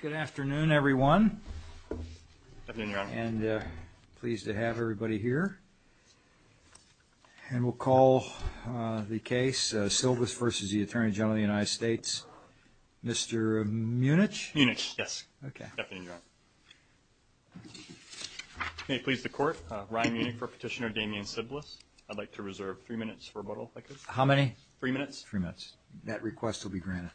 Good afternoon everyone and pleased to have everybody here and we'll call the case Silvis v. the Attorney General of the United States. Mr. Munich? Munich, yes. May it please the court, Ryan Munich for petitioner Damian Siblis. I'd like to reserve three minutes for rebuttal, I guess. How many? Three minutes. That request will be granted.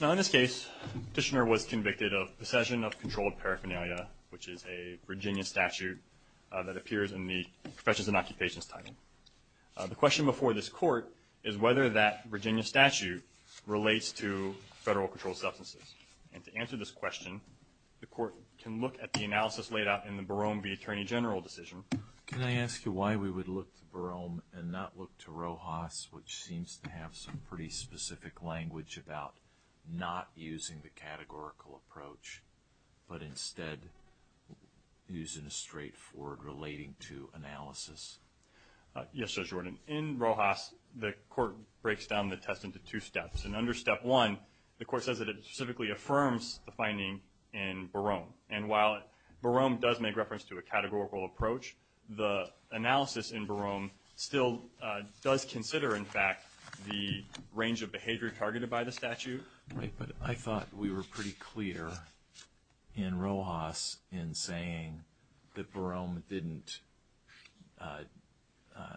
Now in this case, the petitioner was convicted of possession of controlled paraphernalia, which is a Virginia statute that appears in the professions and occupations title. The question before this court is whether that Virginia statute relates to federal controlled substances. And to answer this question, the court can look at the analysis laid out in the Barome v. Attorney General decision. Can I ask you why we would look to Barome and not look to Rojas, which seems to have some pretty specific language about not using the categorical approach, but instead using a straightforward relating to analysis? Yes, Judge Gordon. In Rojas, the court breaks down the test into two steps. And under step one, the court says that it specifically affirms the finding in Barome. And while Barome does make reference to a categorical approach, the analysis in Barome still does consider, in fact, the range of behavior targeted by the statute. Right, but I thought we were pretty clear in Rojas in saying that Barome didn't –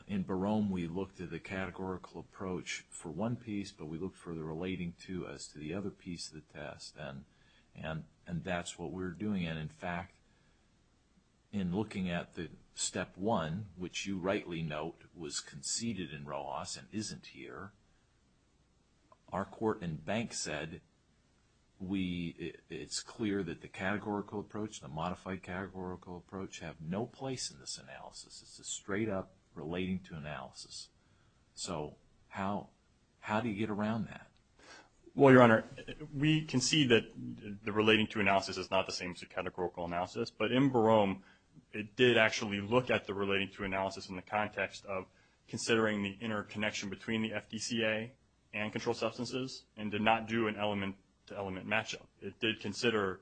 in Barome, we looked at the categorical approach for one piece, but we looked for the relating to as to the other piece of the test. And that's what we're doing. And in fact, in looking at the step one, which you rightly note was conceded in Rojas and isn't here, our court and bank said we – it's clear that the categorical approach, the modified categorical approach, have no place in this How do you get around that? Well, Your Honor, we can see that the relating to analysis is not the same as the categorical analysis. But in Barome, it did actually look at the relating to analysis in the context of considering the interconnection between the FDCA and controlled substances and did not do an element to element matchup. It did consider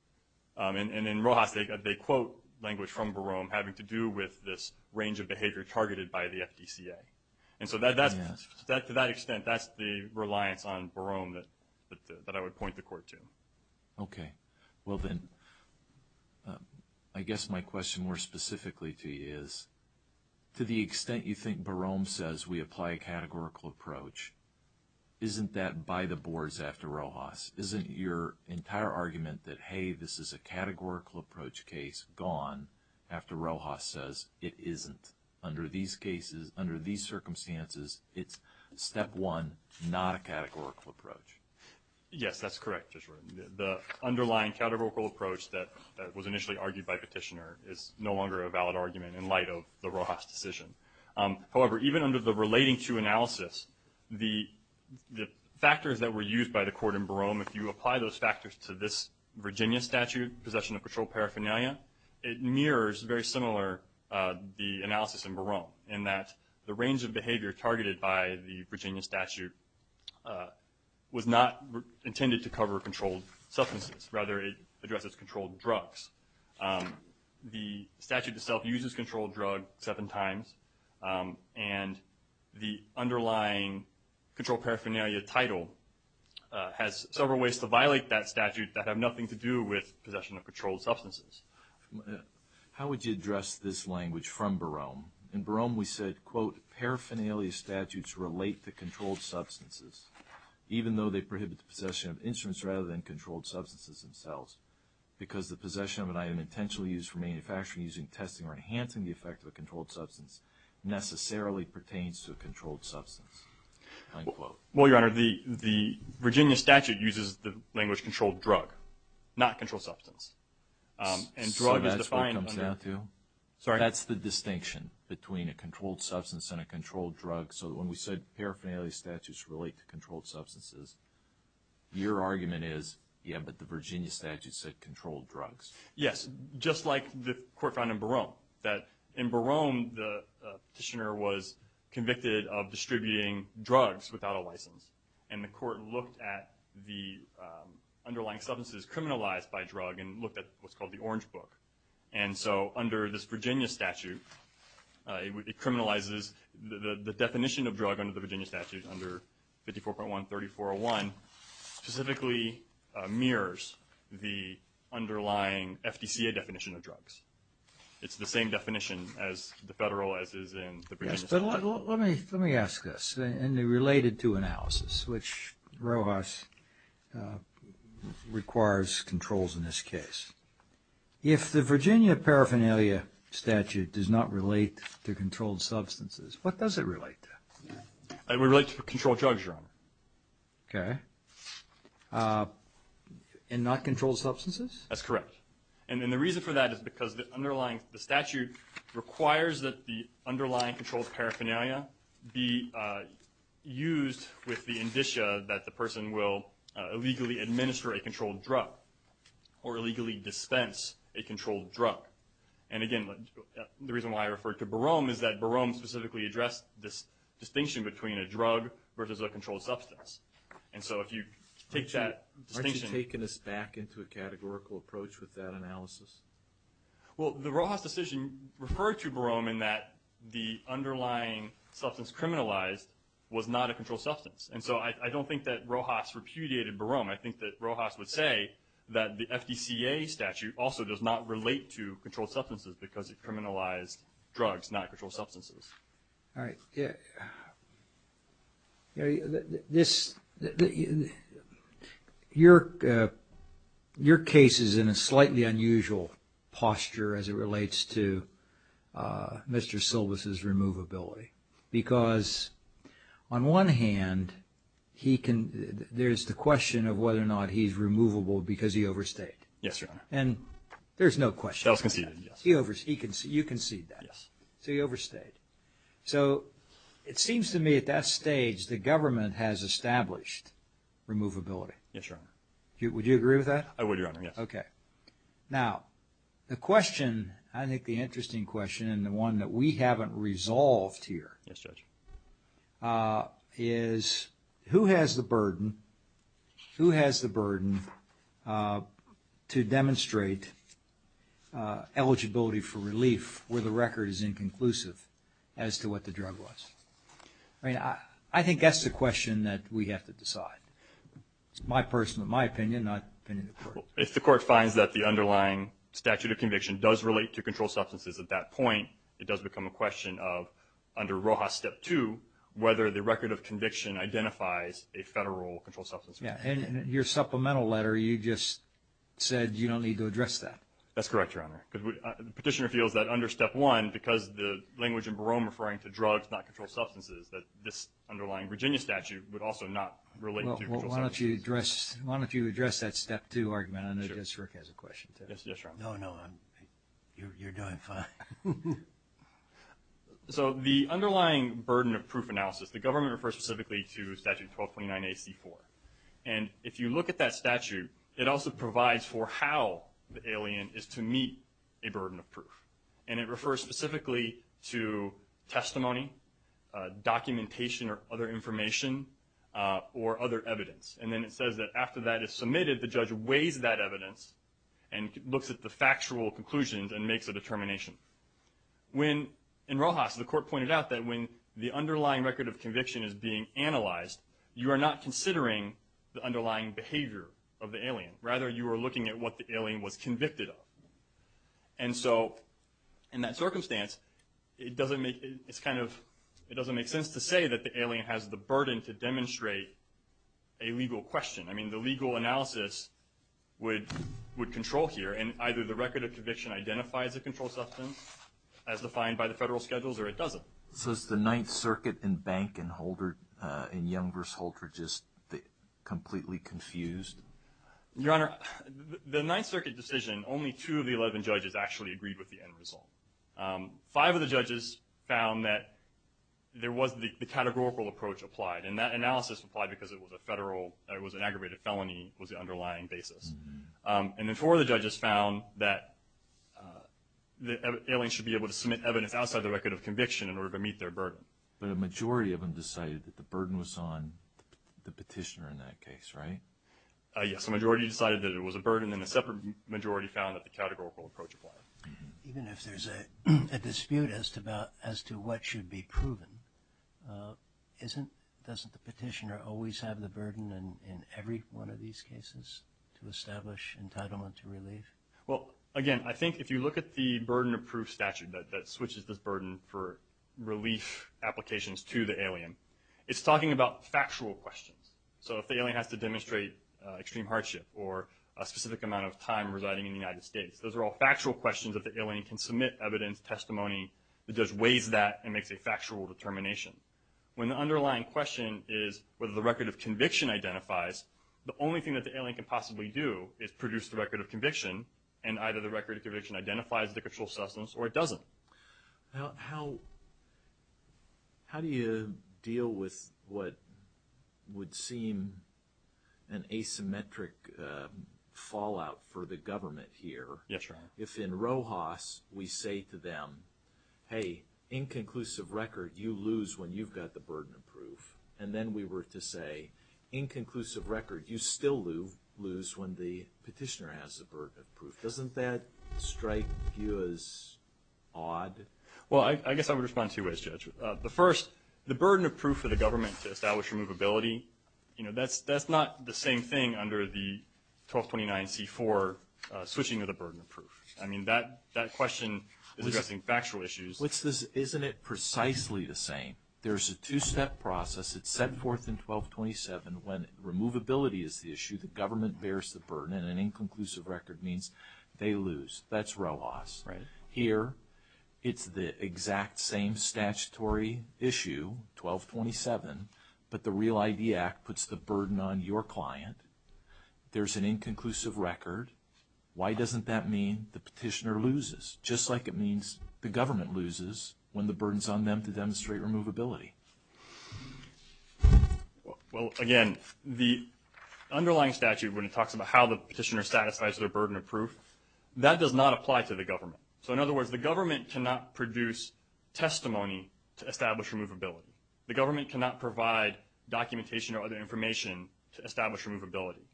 – and in Rojas, they quote language from Barome having to do with this range of But to that extent, that's the reliance on Barome that I would point the court to. Okay. Well then, I guess my question more specifically to you is, to the extent you think Barome says we apply a categorical approach, isn't that by the boards after Rojas? Isn't your entire argument that, hey, this is a categorical approach case gone after Rojas says it isn't? Under these cases, under these circumstances, it's step one, not a categorical approach. Yes, that's correct, Judge Rowe. The underlying categorical approach that was initially argued by Petitioner is no longer a valid argument in light of the Rojas decision. However, even under the relating to analysis, the factors that were used by the court in Barome, if you apply those factors to this Virginia statute, possession of controlled paraphernalia, it mirrors very similar the analysis in Barome in that the range of behavior targeted by the Virginia statute was not intended to cover controlled substances. Rather, it addresses controlled drugs. The statute itself uses controlled drug seven times, and the underlying controlled paraphernalia title has several ways to violate that statute that have nothing to do with possession of controlled substances. How would you address this language from Barome? In Barome, we said, quote, paraphernalia statutes relate to controlled substances, even though they prohibit the possession of instruments rather than controlled substances themselves, because the possession of an item intentionally used for manufacturing, using, testing, or enhancing the effect of a controlled substance necessarily pertains to a controlled substance, end quote. Well, Your Honor, the Virginia statute uses the language controlled drug, not controlled substance. So that's what it comes down to? That's the distinction between a controlled substance and a controlled drug. So when we said paraphernalia statutes relate to controlled substances, your argument is, yeah, but the Virginia statute said controlled drugs. Yes, just like the court found in Barome, that in Barome, the petitioner was convicted of distributing drugs without a license. And the court looked at the underlying substances criminalized by a drug and looked at what's called the Orange Book. And so under this Virginia statute, it criminalizes the definition of drug under the Virginia statute, under 54.1-3401, specifically mirrors the underlying FDCA definition of drugs. It's the same definition as the federal, as is in the Virginia statute. Yes, but let me ask this. And it related to analysis, which Rojas requires controls in this case. If the Virginia paraphernalia statute does not relate to controlled substances, what does it relate to? It relates to a controlled drug, Your Honor. Okay. And not controlled substances? That's correct. And the reason for that is because the underlying statute requires that the underlying controlled paraphernalia be used with the indicia that the person will illegally administer a controlled drug or illegally dispense a controlled drug. And again, the reason why I referred to Barome is that Barome specifically addressed this distinction between a drug versus a controlled substance. And so if you take that distinction Has Barome taken us back into a categorical approach with that analysis? Well the Rojas decision referred to Barome in that the underlying substance criminalized was not a controlled substance. And so I don't think that Rojas repudiated Barome. I think that Rojas would say that the FDCA statute also does not relate to controlled substances because it criminalized drugs, not controlled substances. All right. Your case is in a slightly unusual posture as it relates to Mr. Silvas' removability because on one hand, there's the question of whether or not he's removable because he overstayed. Yes, Your Honor. And there's no question. That was conceded, yes. You conceded that. Yes. So he overstayed. So it seems to me at that stage, the government has established removability. Yes, Your Honor. Would you agree with that? I would, Your Honor. Yes. Okay. Now the question, I think the interesting question and the one that we haven't resolved here is who has the burden, who has the burden to demonstrate eligibility for relief where the record is inconclusive as to what the drug was. I mean, I think that's the question that we have to decide. It's my personal, my opinion, not the opinion of the court. If the court finds that the underlying statute of conviction does relate to controlled substances at that point, it does become a question of under Rojas step two, whether the record of conviction identifies a federal controlled substance. Yes. And in your supplemental letter, you just said you don't need to address that. That's correct, Your Honor. Because the petitioner feels that under step one, because the language in Barone referring to drugs, not controlled substances, that this underlying Virginia statute would also not relate to controlled substances. Well, why don't you address that step two argument? I know Judge Schwerk has a question too. Yes, Your Honor. No, no. You're doing fine. So the underlying burden of proof analysis, the government refers specifically to statute 1229 AC4. And if you look at that statute, it also provides for how the alien is to meet a burden of proof. And it refers specifically to testimony, documentation, or other information, or other evidence. And then it says that after that is submitted, the judge weighs that evidence and looks at the factual conclusions and makes a determination. In Rojas, the court pointed out that when the underlying record of conviction is being analyzed, you are not considering the underlying behavior of the alien. Rather, you are looking at what the alien was convicted of. And so in that circumstance, it doesn't make sense to say that the alien has the burden to demonstrate a legal question. I mean, the legal analysis would control here. And either the record of conviction identifies a controlled substance as defined by the federal schedules, or it doesn't. So is the Ninth Circuit in Bank and Younger's Holder just completely confused? Your Honor, the Ninth Circuit decision, only two of the 11 judges actually agreed with the end result. Five of the judges found that there was the categorical approach applied. And that analysis applied because it was an aggravated felony was the underlying basis. And then four of the judges found that the alien should be able to submit evidence outside the record of conviction in order to meet their burden. But a majority of them decided that the burden was on the petitioner in that case, right? Yes, a majority decided that it was a burden, and a separate majority found that the categorical approach applied. Even if there's a dispute as to what should be proven, doesn't the petitioner always have the burden in every one of these cases to establish entitlement to relief? Well, again, I think if you look at the burden of proof statute that switches this burden for relief applications to the alien, it's talking about factual questions. So if the alien has to demonstrate extreme hardship or a specific amount of time residing in the United States, those are all factual questions that the alien can submit evidence, testimony that just weighs that and makes a factual determination. When the underlying question is whether the record of conviction identifies, the only thing that the alien can possibly do is produce the record of conviction, and either the record of conviction identifies the control substance or it doesn't. Now, how do you deal with what would seem an asymmetric fallout for the government here? Yes, Your Honor. If in Rojas we say to them, hey, inconclusive record, you lose when you've got the burden of proof, and then we were to say, inconclusive record, you still lose when the petitioner has the burden of proof, doesn't that strike you as odd? Well, I guess I would respond two ways, Judge. The first, the burden of proof for the government to establish removability, that's not the I mean, that question is addressing factual issues. Isn't it precisely the same? There's a two-step process. It's set forth in 1227 when removability is the issue, the government bears the burden, and an inconclusive record means they lose. That's Rojas. Right. Here, it's the exact same statutory issue, 1227, but the Real ID Act puts the burden on your client. There's an inconclusive record. Why doesn't that mean the petitioner loses, just like it means the government loses when the burden's on them to demonstrate removability? Well, again, the underlying statute, when it talks about how the petitioner satisfies their burden of proof, that does not apply to the government. So in other words, the government cannot produce testimony to establish removability. The government cannot provide documentation or other information to establish removability.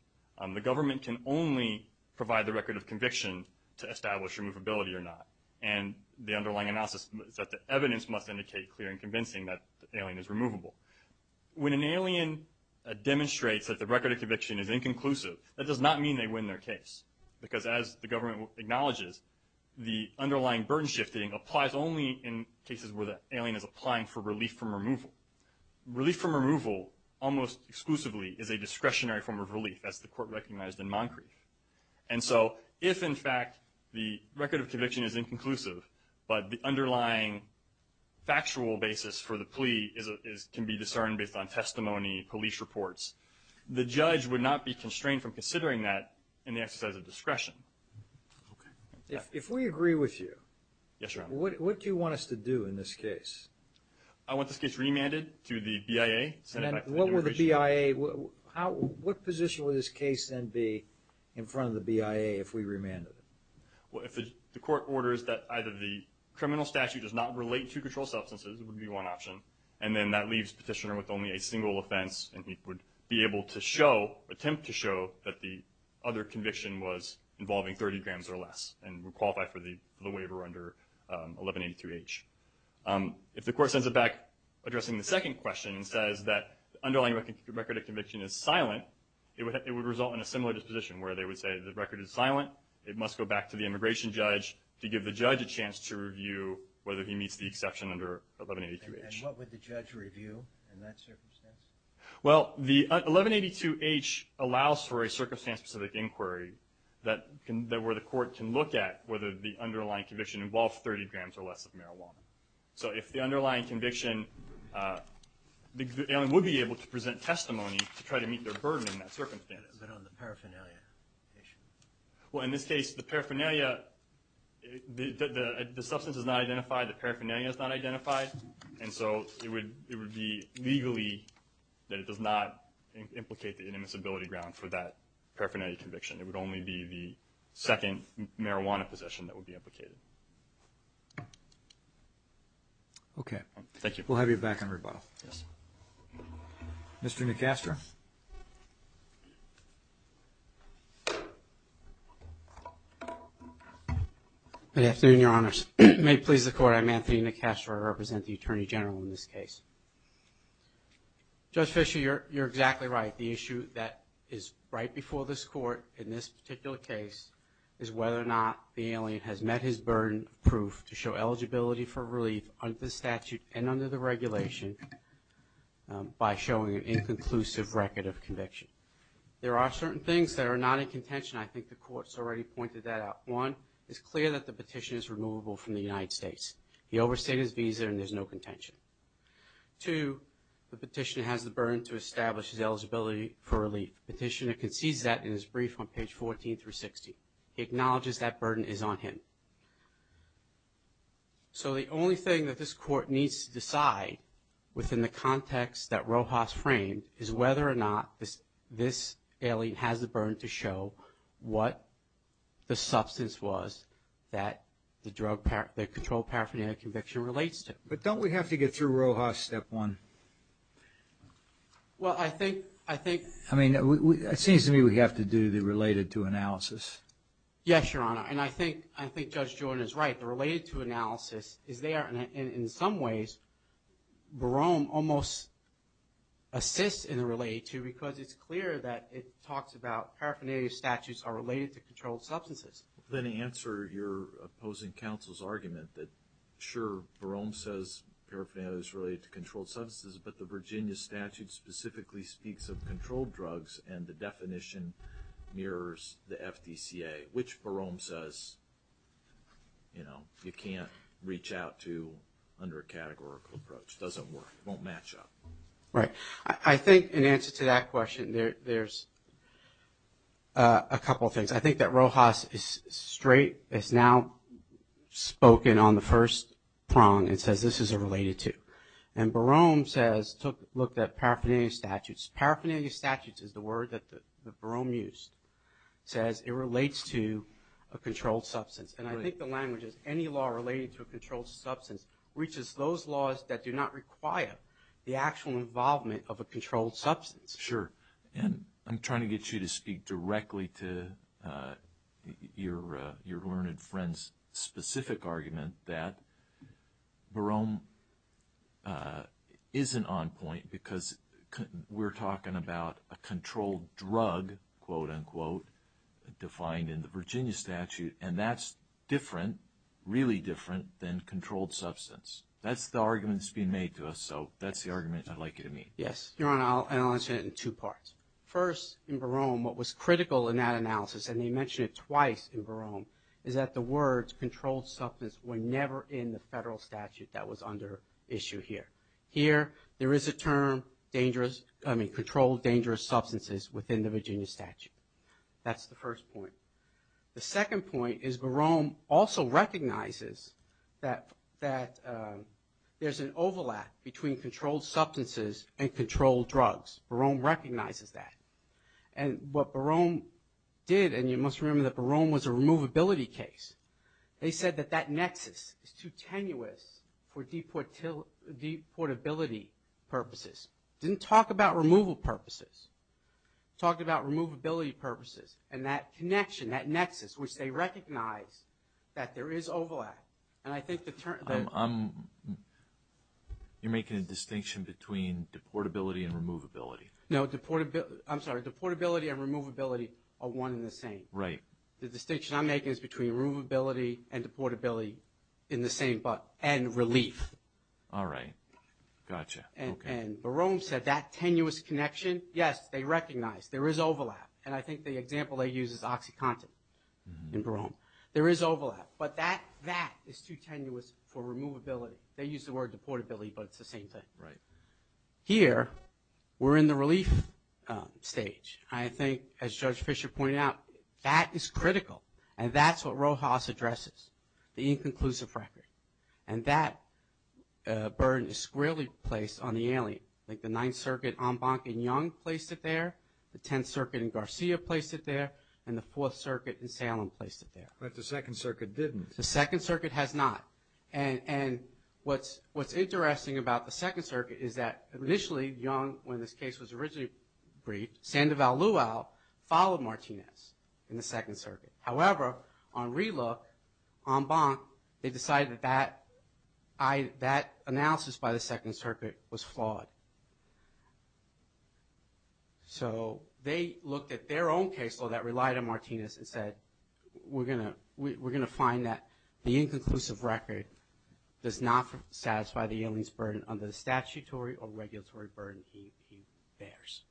The government can only provide the record of conviction to establish removability or not, and the underlying analysis is that the evidence must indicate clear and convincing that the alien is removable. When an alien demonstrates that the record of conviction is inconclusive, that does not mean they win their case, because as the government acknowledges, the underlying burden shifting applies only in cases where the alien is applying for relief from removal. Relief from removal, almost exclusively, is a discretionary form of relief, as the Court recognized in Moncrief. And so if, in fact, the record of conviction is inconclusive, but the underlying factual basis for the plea can be discerned based on testimony, police reports, the judge would not be constrained from considering that in the exercise of discretion. If we agree with you, what do you want us to do in this case? I want this case remanded to the BIA. And what would the BIA – what position would this case then be in front of the BIA if we remanded it? Well, if the Court orders that either the criminal statute does not relate to controlled substances, it would be one option, and then that leaves Petitioner with only a single offense, and he would be able to show, attempt to show, that the other conviction was involving 30 grams or less and would qualify for the waiver under 1182H. If the Court sends it back addressing the second question, and says that the underlying record of conviction is silent, it would result in a similar disposition, where they would say the record is silent, it must go back to the immigration judge to give the judge a chance to review whether he meets the exception under 1182H. And what would the judge review in that circumstance? Well, the 1182H allows for a circumstance-specific inquiry where the Court can look at whether the underlying conviction involved 30 grams or less of marijuana. So if the underlying conviction – the alien would be able to present testimony to try to meet their burden in that circumstance. But on the paraphernalia issue? Well, in this case, the paraphernalia – the substance is not identified, the paraphernalia is not identified, and so it would be legally – that it does not implicate the inadmissibility ground for that paraphernalia conviction. It would only be the second marijuana possession that would be implicated. Okay. Thank you. We'll have you back on rebuttal. Mr. Nicastro? Good afternoon, Your Honors. May it please the Court, I'm Anthony Nicastro. I represent the Attorney General in this case. Judge Fischer, you're exactly right. The issue that is right before this Court in this particular case is whether or not the alien has met his burden of proof to show eligibility for relief under the statute and under the regulation by showing an inconclusive record of conviction. There are certain things that are not in contention. I think the Court's already pointed that out. One, it's clear that the petition is removable from the United States. He overstayed his visa and there's no contention. Two, the petitioner has the burden to establish his eligibility for relief. The petitioner concedes that in his brief on page 14 through 16. He acknowledges that burden is on him. So the only thing that this Court needs to decide within the context that Rojas framed is whether or not this alien has the burden to show what the substance was that the controlled paraphernalia conviction relates to. But don't we have to get through Rojas' step one? Well, I think we have to do the related to analysis. Yes, Your Honor. And I think Judge Jordan is right. The related to analysis is there. In some ways, Barome almost assists in the related to because it's clear that it talks about paraphernalia statutes are related to controlled substances. Let me answer your opposing counsel's argument that, sure, Barome says paraphernalia is related to controlled substances, but the Virginia statute specifically speaks of controlled drugs and the definition mirrors the FDCA, which Barome says you can't reach out to under a categorical approach. It doesn't work. It won't match up. Right. I think in answer to that question, there's a couple of things. I think that Rojas is straight, has now spoken on the first prong and says this is a related to. And Barome says, looked at paraphernalia statutes. Paraphernalia statutes is the word that Barome used. It says it relates to a controlled substance. And I think the language is any law related to a controlled substance reaches those laws that do not require the actual involvement of a controlled substance. Sure. And I'm trying to get you to speak directly to your learned friend's specific argument that Barome isn't on point because we're talking about a controlled drug, quote, unquote, defined in the Virginia statute, and that's different, really different than controlled substance. That's the argument that's being made to us, so that's the argument I'd like you to meet. Yes. Your Honor, I'll answer it in two parts. First, in Barome, what was critical in that analysis, and he mentioned it twice in Barome, is that the words controlled substance were never in the federal statute that was under issue here. Here, there is a term dangerous, I mean, controlled dangerous substances within the Virginia statute. That's the first point. The second point is Barome also recognizes that there's an overlap between controlled substances and controlled drugs. Barome recognizes that. And what Barome did, and you must remember that Barome was a removability case, they said that that nexus is too tenuous for deportability purposes. Didn't talk about removal purposes. Talked about removability purposes and that connection, that nexus, which they recognize that there is overlap. And I think the term... You're making a distinction between deportability and removability. No, I'm sorry, deportability and removability are one and the same. Right. The distinction I'm making is between removability and deportability in the same... and relief. All right. Gotcha. And Barome said that tenuous connection, yes, they recognize there is overlap. And I think the example they use is OxyContin in Barome. There is overlap. But that is too tenuous for removability. They use the word deportability, but it's the same thing. Right. Here, we're in the relief stage. I think, as Judge Fischer pointed out, that is critical. And that's what Rojas addresses, the inconclusive record. And that burden is squarely placed on the alien. Like the Ninth Circuit, Embank and Young placed it there. The Tenth Circuit and Garcia placed it there. And the Fourth Circuit and Salem placed it there. But the Second Circuit didn't. The Second Circuit has not. And what's interesting about the Second Circuit is that initially Young, when this case was originally briefed, Sandoval-Luau followed Martinez in the Second Circuit. However, on relook, Embank, they decided that that analysis by the Second Circuit was flawed. So they looked at their own case law that relied on Martinez and said, we're going to find that the inconclusive record does not satisfy the alien's burden under the statutory or regulatory burden he bears.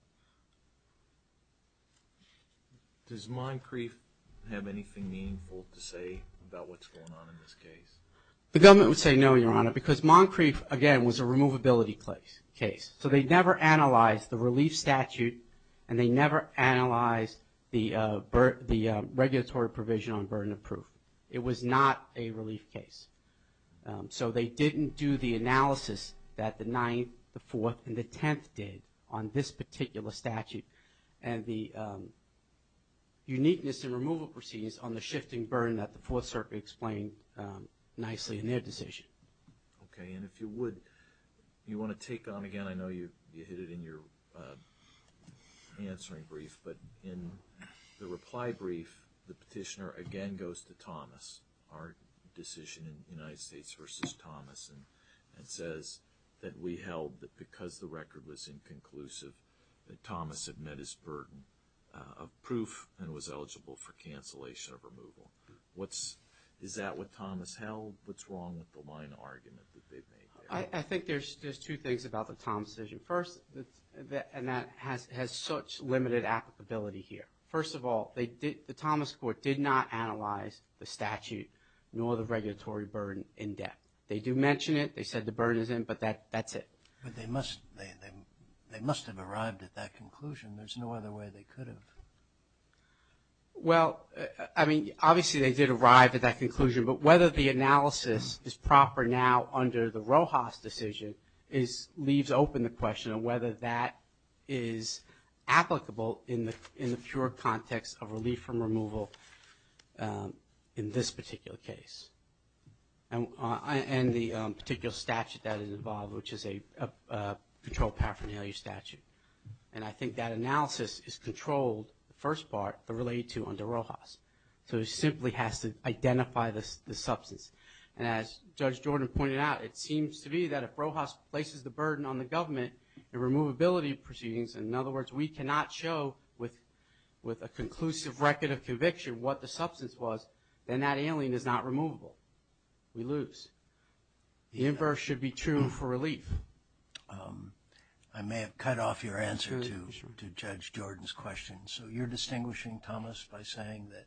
Does Moncrief have anything meaningful to say about what's going on in this case? The government would say no, Your Honor, because Moncrief, again, was a removability case. So they never analyzed the relief statute and they never analyzed the regulatory provision on burden of proof. It was not a relief case. So they didn't do the analysis that the Ninth, the Fourth, and the Tenth did on this particular statute. And the uniqueness in removal proceedings on the shifting burden that the Fourth Circuit explained nicely in their decision. Okay, and if you would, you want to take on, again, I know you hit it in your answering brief, but in the reply brief, the petitioner again goes to Thomas, our decision in the United States versus Thomas, and says that we held that because the record was inconclusive, that Thomas had met his burden of proof and was eligible for cancellation of removal. Is that what Thomas held? What's wrong with the line of argument that they made there? I think there's two things about the Thomas decision. First, and that has such limited applicability here. First of all, the Thomas Court did not analyze the statute nor the regulatory burden in depth. They do mention it. They said the burden is in, but that's it. But they must have arrived at that conclusion. There's no other way they could have. Well, I mean, obviously they did arrive at that conclusion, but whether the analysis is proper now under the Rojas decision leaves open the question of whether that is applicable in the pure context of relief from removal in this particular case and the particular statute that is involved, which is a controlled paraphernalia statute. And I think that analysis is controlled, the first part, related to under Rojas. So it simply has to identify the substance. And as Judge Jordan pointed out, it seems to me that if Rojas places the burden on the government in removability proceedings, in other words, we cannot show with a conclusive record of conviction what the substance was, then that alien is not removable. We lose. The inverse should be true for relief. I may have cut off your answer to Judge Jordan's question. So you're distinguishing, Thomas, by saying that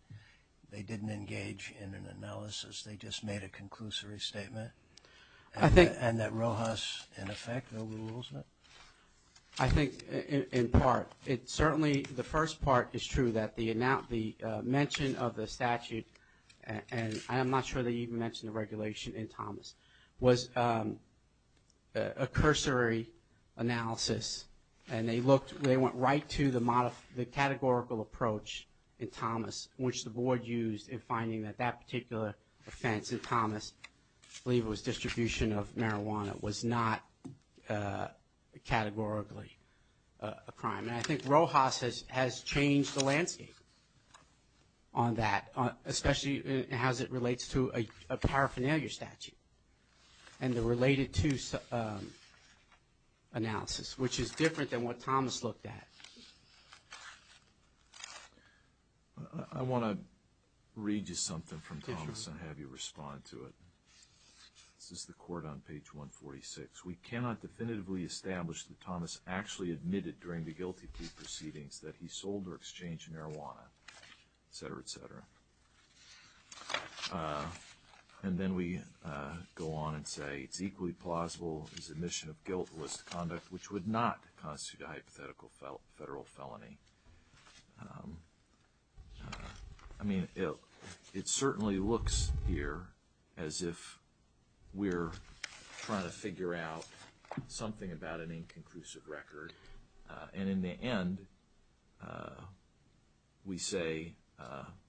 they didn't engage in an analysis, they just made a conclusory statement, and that Rojas, in effect, overrules it? I think in part. Certainly the first part is true, that the mention of the statute, and I'm not sure they even mentioned the regulation in Thomas, was a cursory analysis. And they went right to the categorical approach in Thomas, which the Board used in finding that that particular offense in Thomas, I believe it was distribution of marijuana, was not categorically a crime. And I think Rojas has changed the landscape on that, especially as it relates to a paraphernalia statute and the related to analysis, which is different than what Thomas looked at. I want to read you something from Thomas and have you respond to it. This is the court on page 146. We cannot definitively establish that Thomas actually admitted during the guilty plea proceedings that he sold or exchanged marijuana, et cetera, et cetera. And then we go on and say it's equally plausible his admission of guilt was conduct which would not constitute a hypothetical federal felony. I mean, it certainly looks here as if we're trying to figure out something about an inconclusive record. And in the end, we say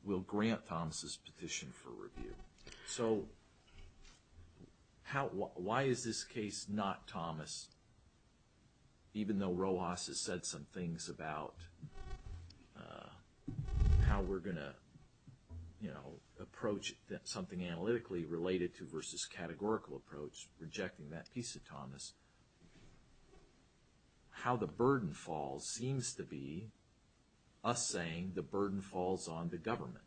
we'll grant Thomas's petition for review. So why is this case not Thomas, even though Rojas has said some things about how we're going to, you know, approach something analytically related to versus categorical approach, rejecting that piece of Thomas, how the burden falls seems to be us saying the burden falls on the government.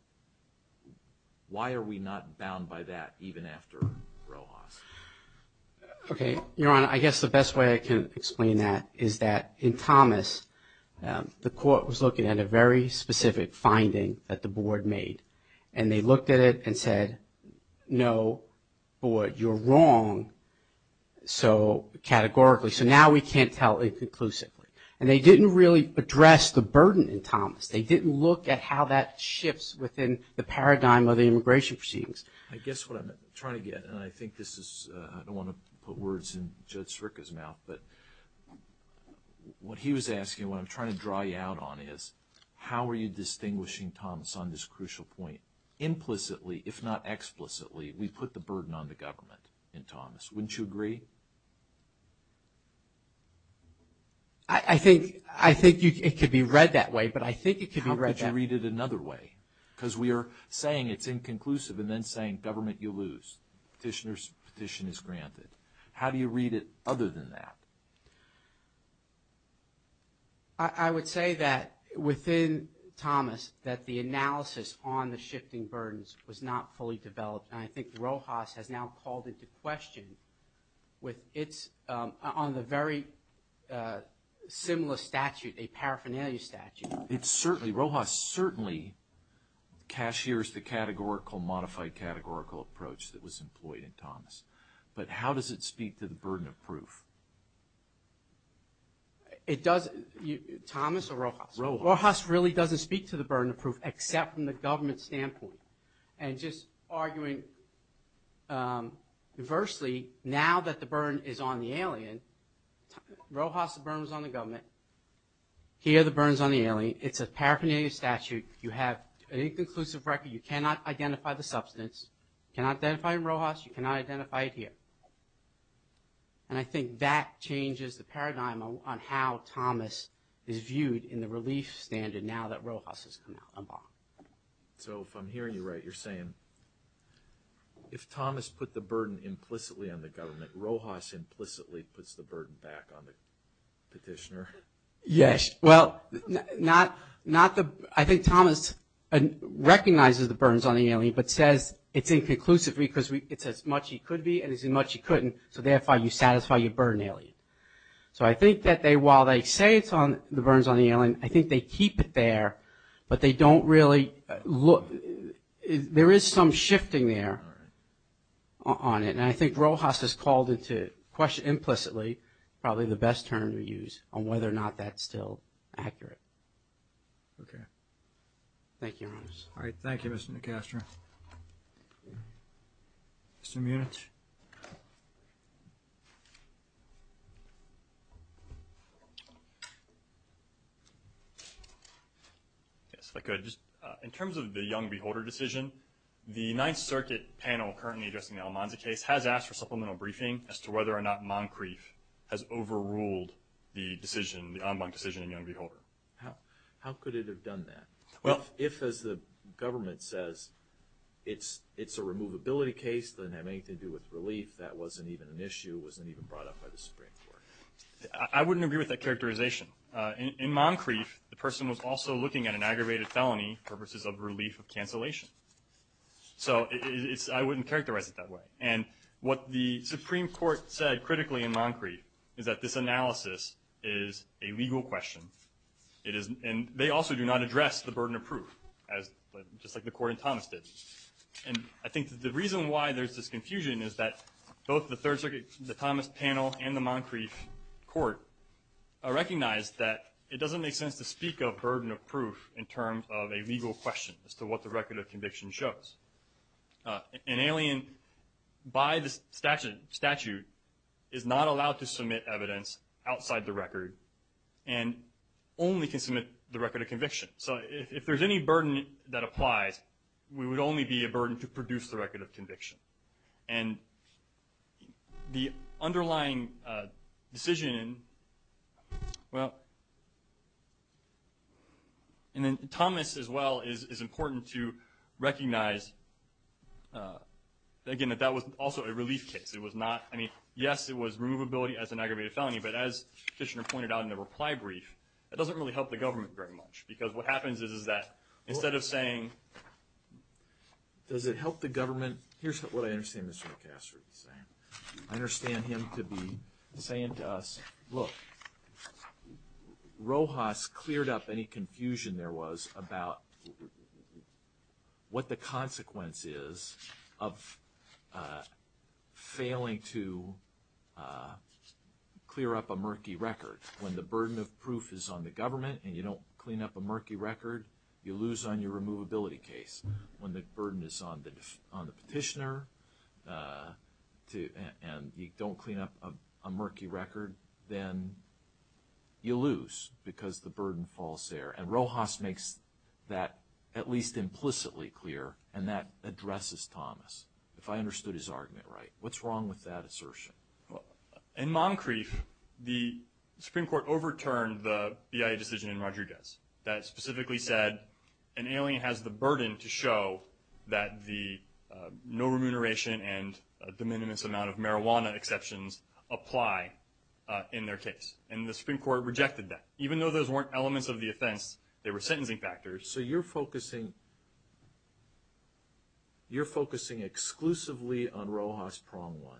Why are we not bound by that even after Rojas? Okay. Your Honor, I guess the best way I can explain that is that in Thomas, the court was looking at a very specific finding that the board made. And they looked at it and said, no, board, you're wrong, so categorically. So now we can't tell it conclusively. And they didn't really address the burden in Thomas. They didn't look at how that shifts within the paradigm of the immigration proceedings. I guess what I'm trying to get, and I think this is, I don't want to put words in Judge Strickland's mouth, but what he was asking, what I'm trying to draw you out on is, how are you distinguishing Thomas on this crucial point? Implicitly, if not explicitly, we put the burden on the government in Thomas. Wouldn't you agree? I think it could be read that way, but I think it could be read that way. How could you read it another way? Because we are saying it's inconclusive and then saying, government, you lose. Petitioner's petition is granted. How do you read it other than that? I would say that within Thomas, that the analysis on the shifting burdens was not fully developed. And I think Rojas has now called into question on the very similar statute, a paraphernalia statute. It's certainly, Rojas certainly cashiers the categorical, modified categorical approach that was employed in Thomas. But how does it speak to the burden of proof? It does, Thomas or Rojas? Rojas. Rojas really doesn't speak to the burden of proof, except from the government standpoint. And just arguing adversely, now that the burden is on the alien, Rojas, the burden is on the government. Here, the burden is on the alien. It's a paraphernalia statute. You have an inconclusive record. You cannot identify the substance. You cannot identify it in Rojas. You cannot identify it here. And I think that changes the paradigm on how Thomas is viewed in the relief standard now that Rojas has come out on bar. So if I'm hearing you right, you're saying, if Thomas put the burden implicitly on the government, Rojas implicitly puts the burden back on the petitioner? Yes. Well, I think Thomas recognizes the burden is on the alien, but says it's inconclusive because it's as much he could be and as much he couldn't, so therefore you satisfy your burden alien. So I think that while they say the burden is on the alien, I think they keep it there, but they don't really look. There is some shifting there on it. And I think Rojas has called into question implicitly probably the best term to use on whether or not that's still accurate. Thank you, Your Honors. All right. Thank you, Mr. Nicastro. Mr. Munitz. Yes, if I could. In terms of the young beholder decision, the Ninth Circuit panel currently addressing the Almanza case has asked for supplemental briefing as to whether or not Moncrief has overruled the decision, the ombud decision in young beholder. How could it have done that? If, as the government says, it's a removability case, doesn't have anything to do with relief, that wasn't even an issue, wasn't even brought up by the Supreme Court. I wouldn't agree with that characterization. In Moncrief, the person was also looking at an aggravated felony for purposes of relief of cancellation. So I wouldn't characterize it that way. And what the Supreme Court said critically in Moncrief is that this analysis is a legal question. And they also do not address the burden of proof, just like the court in Thomas did. And I think the reason why there's this confusion is that both the Thomas panel and the Moncrief court recognize that it doesn't make sense to speak of what the record of conviction shows. An alien by the statute is not allowed to submit evidence outside the record and only can submit the record of conviction. So if there's any burden that applies, we would only be a burden to produce the record of conviction. And the underlying decision, well, and then Thomas as well is important to recognize, again, that that was also a relief case. It was not, I mean, yes, it was removability as an aggravated felony, but as Fishner pointed out in the reply brief, it doesn't really help the government very much. And here's what I understand Mr. McCaster to be saying. I understand him to be saying to us, look, Rojas cleared up any confusion there was about what the consequence is of failing to clear up a murky record. When the burden of proof is on the government and you don't clean up a murky record, you lose on your removability case. When the burden is on the petitioner and you don't clean up a murky record, then you lose because the burden falls there. And Rojas makes that at least implicitly clear, and that addresses Thomas. If I understood his argument right. What's wrong with that assertion? In Moncrief, the Supreme Court overturned the BIA decision in Rodriguez that specifically said an alien has the burden to show that the no remuneration and a de minimis amount of marijuana exceptions apply in their case, and the Supreme Court rejected that. Even though those weren't elements of the offense, they were sentencing factors. So you're focusing exclusively on Rojas' prong one,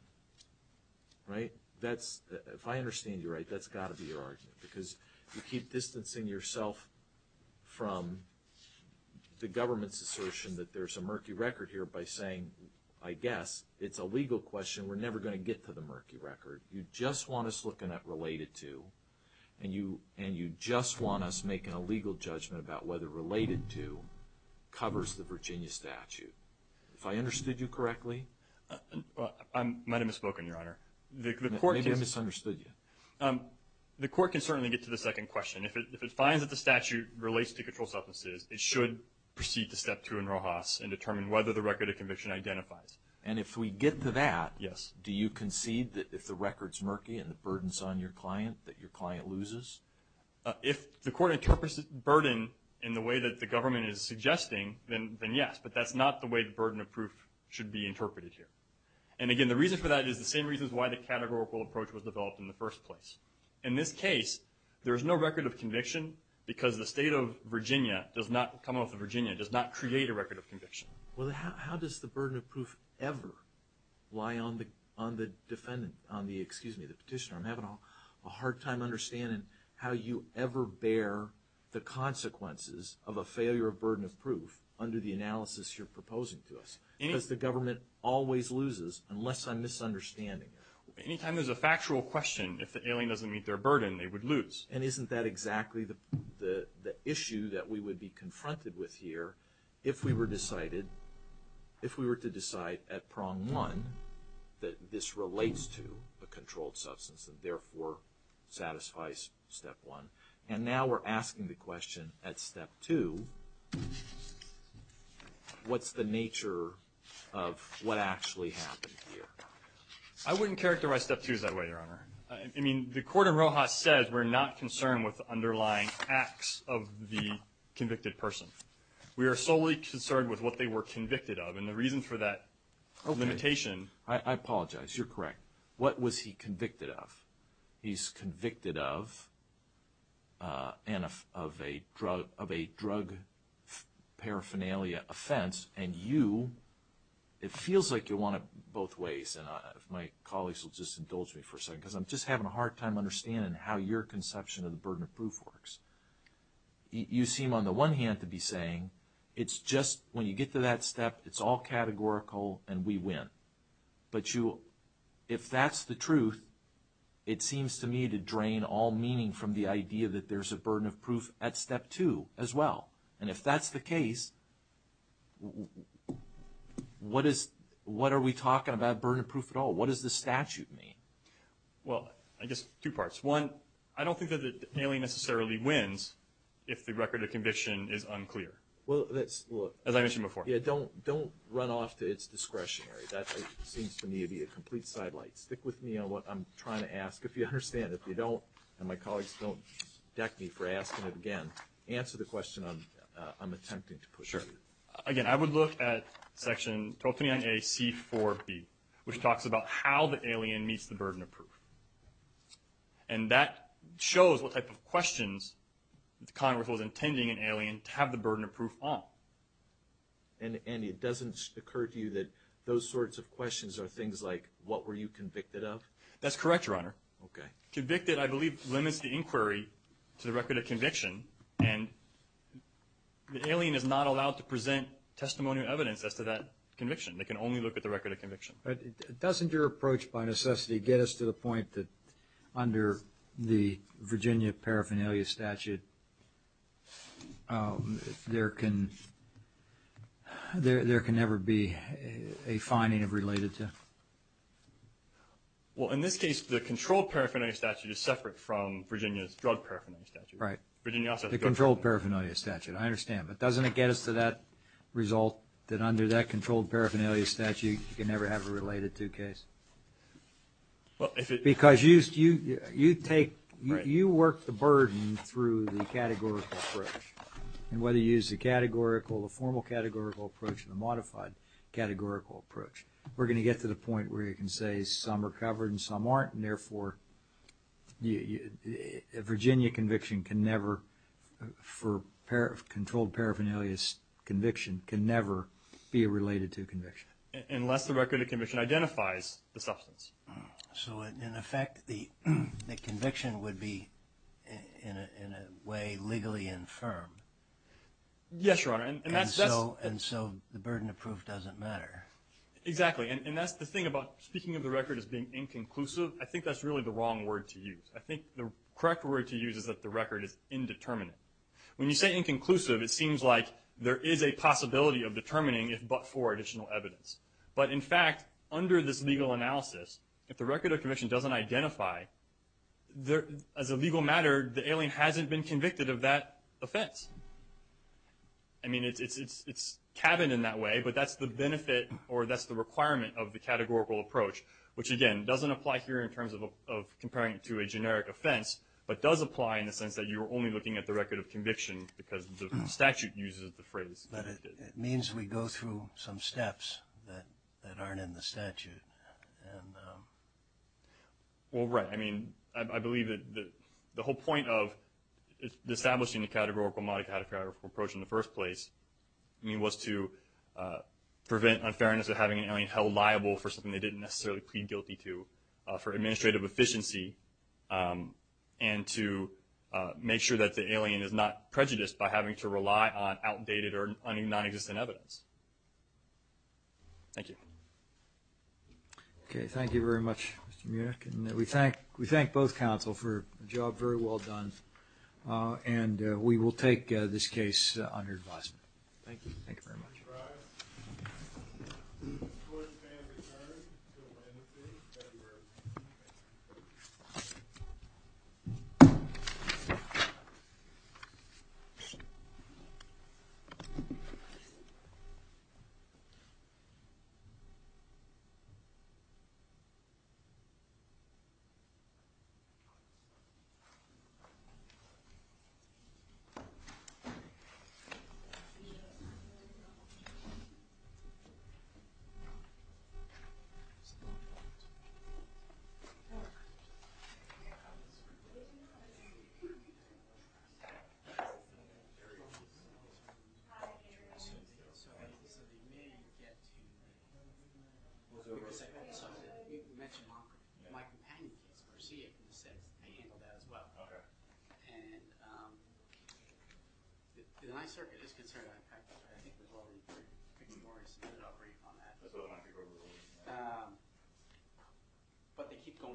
right? If I understand you right, that's got to be your argument because you keep distancing yourself from the government's assertion that there's a murky record here by saying, I guess, it's a legal question, we're never going to get to the murky record. You just want us looking at related to, and you just want us making a legal judgment about whether related to covers the Virginia statute. If I understood you correctly. My name is Spoken, Your Honor. Maybe I misunderstood you. The court can certainly get to the second question. If it finds that the statute relates to controlled substances, it should proceed to step two in Rojas and determine whether the record of conviction identifies. And if we get to that, do you concede that if the record's murky and the burden's on your client, that your client loses? If the court interprets the burden in the way that the government is suggesting, then yes. But that's not the way the burden of proof should be interpreted here. And, again, the reason for that is the same reasons why the categorical approach was developed in the first place. In this case, there is no record of conviction because the state of Virginia does not come off of Virginia, does not create a record of conviction. Well, how does the burden of proof ever lie on the defendant, on the, excuse me, the petitioner? I'm having a hard time understanding how you ever bear the consequences of a failure of burden of proof under the analysis you're proposing to us. Because the government always loses unless I'm misunderstanding it. Any time there's a factual question, if the alien doesn't meet their burden, they would lose. And isn't that exactly the issue that we would be confronted with here if we were decided, if we were to decide at prong one, that this relates to a controlled substance and, therefore, satisfies step one? And now we're asking the question at step two, what's the nature of what actually happened here? I wouldn't characterize step two that way, Your Honor. I mean, the court in Rojas says we're not concerned with underlying acts of the convicted person. We are solely concerned with what they were convicted of. And the reason for that limitation. I apologize. You're correct. What was he convicted of? He's convicted of a drug paraphernalia offense. And you, it feels like you want it both ways. And if my colleagues will just indulge me for a second, because I'm just having a hard time understanding how your conception of the burden of proof works. You seem, on the one hand, to be saying it's just, when you get to that step, it's all categorical and we win. But you, if that's the truth, it seems to me to drain all meaning from the idea that there's a burden of proof at step two as well. And if that's the case, what is, what are we talking about burden of proof at all? What does the statute mean? Well, I guess two parts. One, I don't think that Haley necessarily wins if the record of conviction is unclear. As I mentioned before. Don't run off to its discretionary. That seems to me to be a complete sidelight. Stick with me on what I'm trying to ask. If you understand, if you don't, and my colleagues don't deck me for asking it again, answer the question I'm attempting to push. Sure. Again, I would look at section 1229A C4B, which talks about how the alien meets the burden of proof. And that shows what type of questions the Congress was intending an alien to have the burden of proof on. And it doesn't occur to you that those sorts of questions are things like, what were you convicted of? That's correct, Your Honor. Okay. Convicted, I believe, limits the inquiry to the record of conviction. And the alien is not allowed to present testimonial evidence as to that conviction. They can only look at the record of conviction. Doesn't your approach by necessity get us to the point that under the Virginia paraphernalia statute, there can never be a finding of related to? Well, in this case, the controlled paraphernalia statute is separate from Virginia's drug paraphernalia statute. Virginia also has a drug paraphernalia statute. The controlled paraphernalia statute, I understand. But doesn't it get us to that result, that under that controlled paraphernalia statute, you can never have a related to case? Well, if it. Because you take, you work the burden through the categorical approach. And whether you use the categorical, the formal categorical approach and the modified categorical approach, we're going to get to the point where you can say some are covered and some aren't. And therefore Virginia conviction can never for controlled paraphernalia conviction can never be a related to conviction. Unless the record of conviction identifies the substance. So in effect, the conviction would be in a way legally infirm. Yes, Your Honor. And so the burden of proof doesn't matter. Exactly. And that's the thing about speaking of the record as being inconclusive. I think that's really the wrong word to use. I think the correct word to use is that the record is indeterminate. When you say inconclusive, it seems like there is a possibility of determining if, but for additional evidence. But in fact, under this legal analysis, if the record of conviction doesn't identify there as a legal matter, the alien hasn't been convicted of that offense. I mean, it's it's it's cabin in that way, but that's the benefit or that's the requirement of the categorical approach, which again, doesn't apply here in terms of comparing it to a generic offense, but does apply in the sense that you were only looking at the record of conviction because the statute uses the phrase. But it means we go through some steps that aren't in the statute. And. Well, right. I mean, I believe that the whole point of establishing a categorical, monocategorical approach in the first place was to prevent unfairness of having an alien held liable for something they didn't necessarily plead guilty to for administrative efficiency and to make sure that the alien is not prejudiced by having to rely on outdated or non-existent evidence. Thank you. OK, thank you very much. And we thank we thank both counsel for a job very well done. And we will take this case under. Thank you. Thank you very much. Thank you. And I certainly. But they keep going.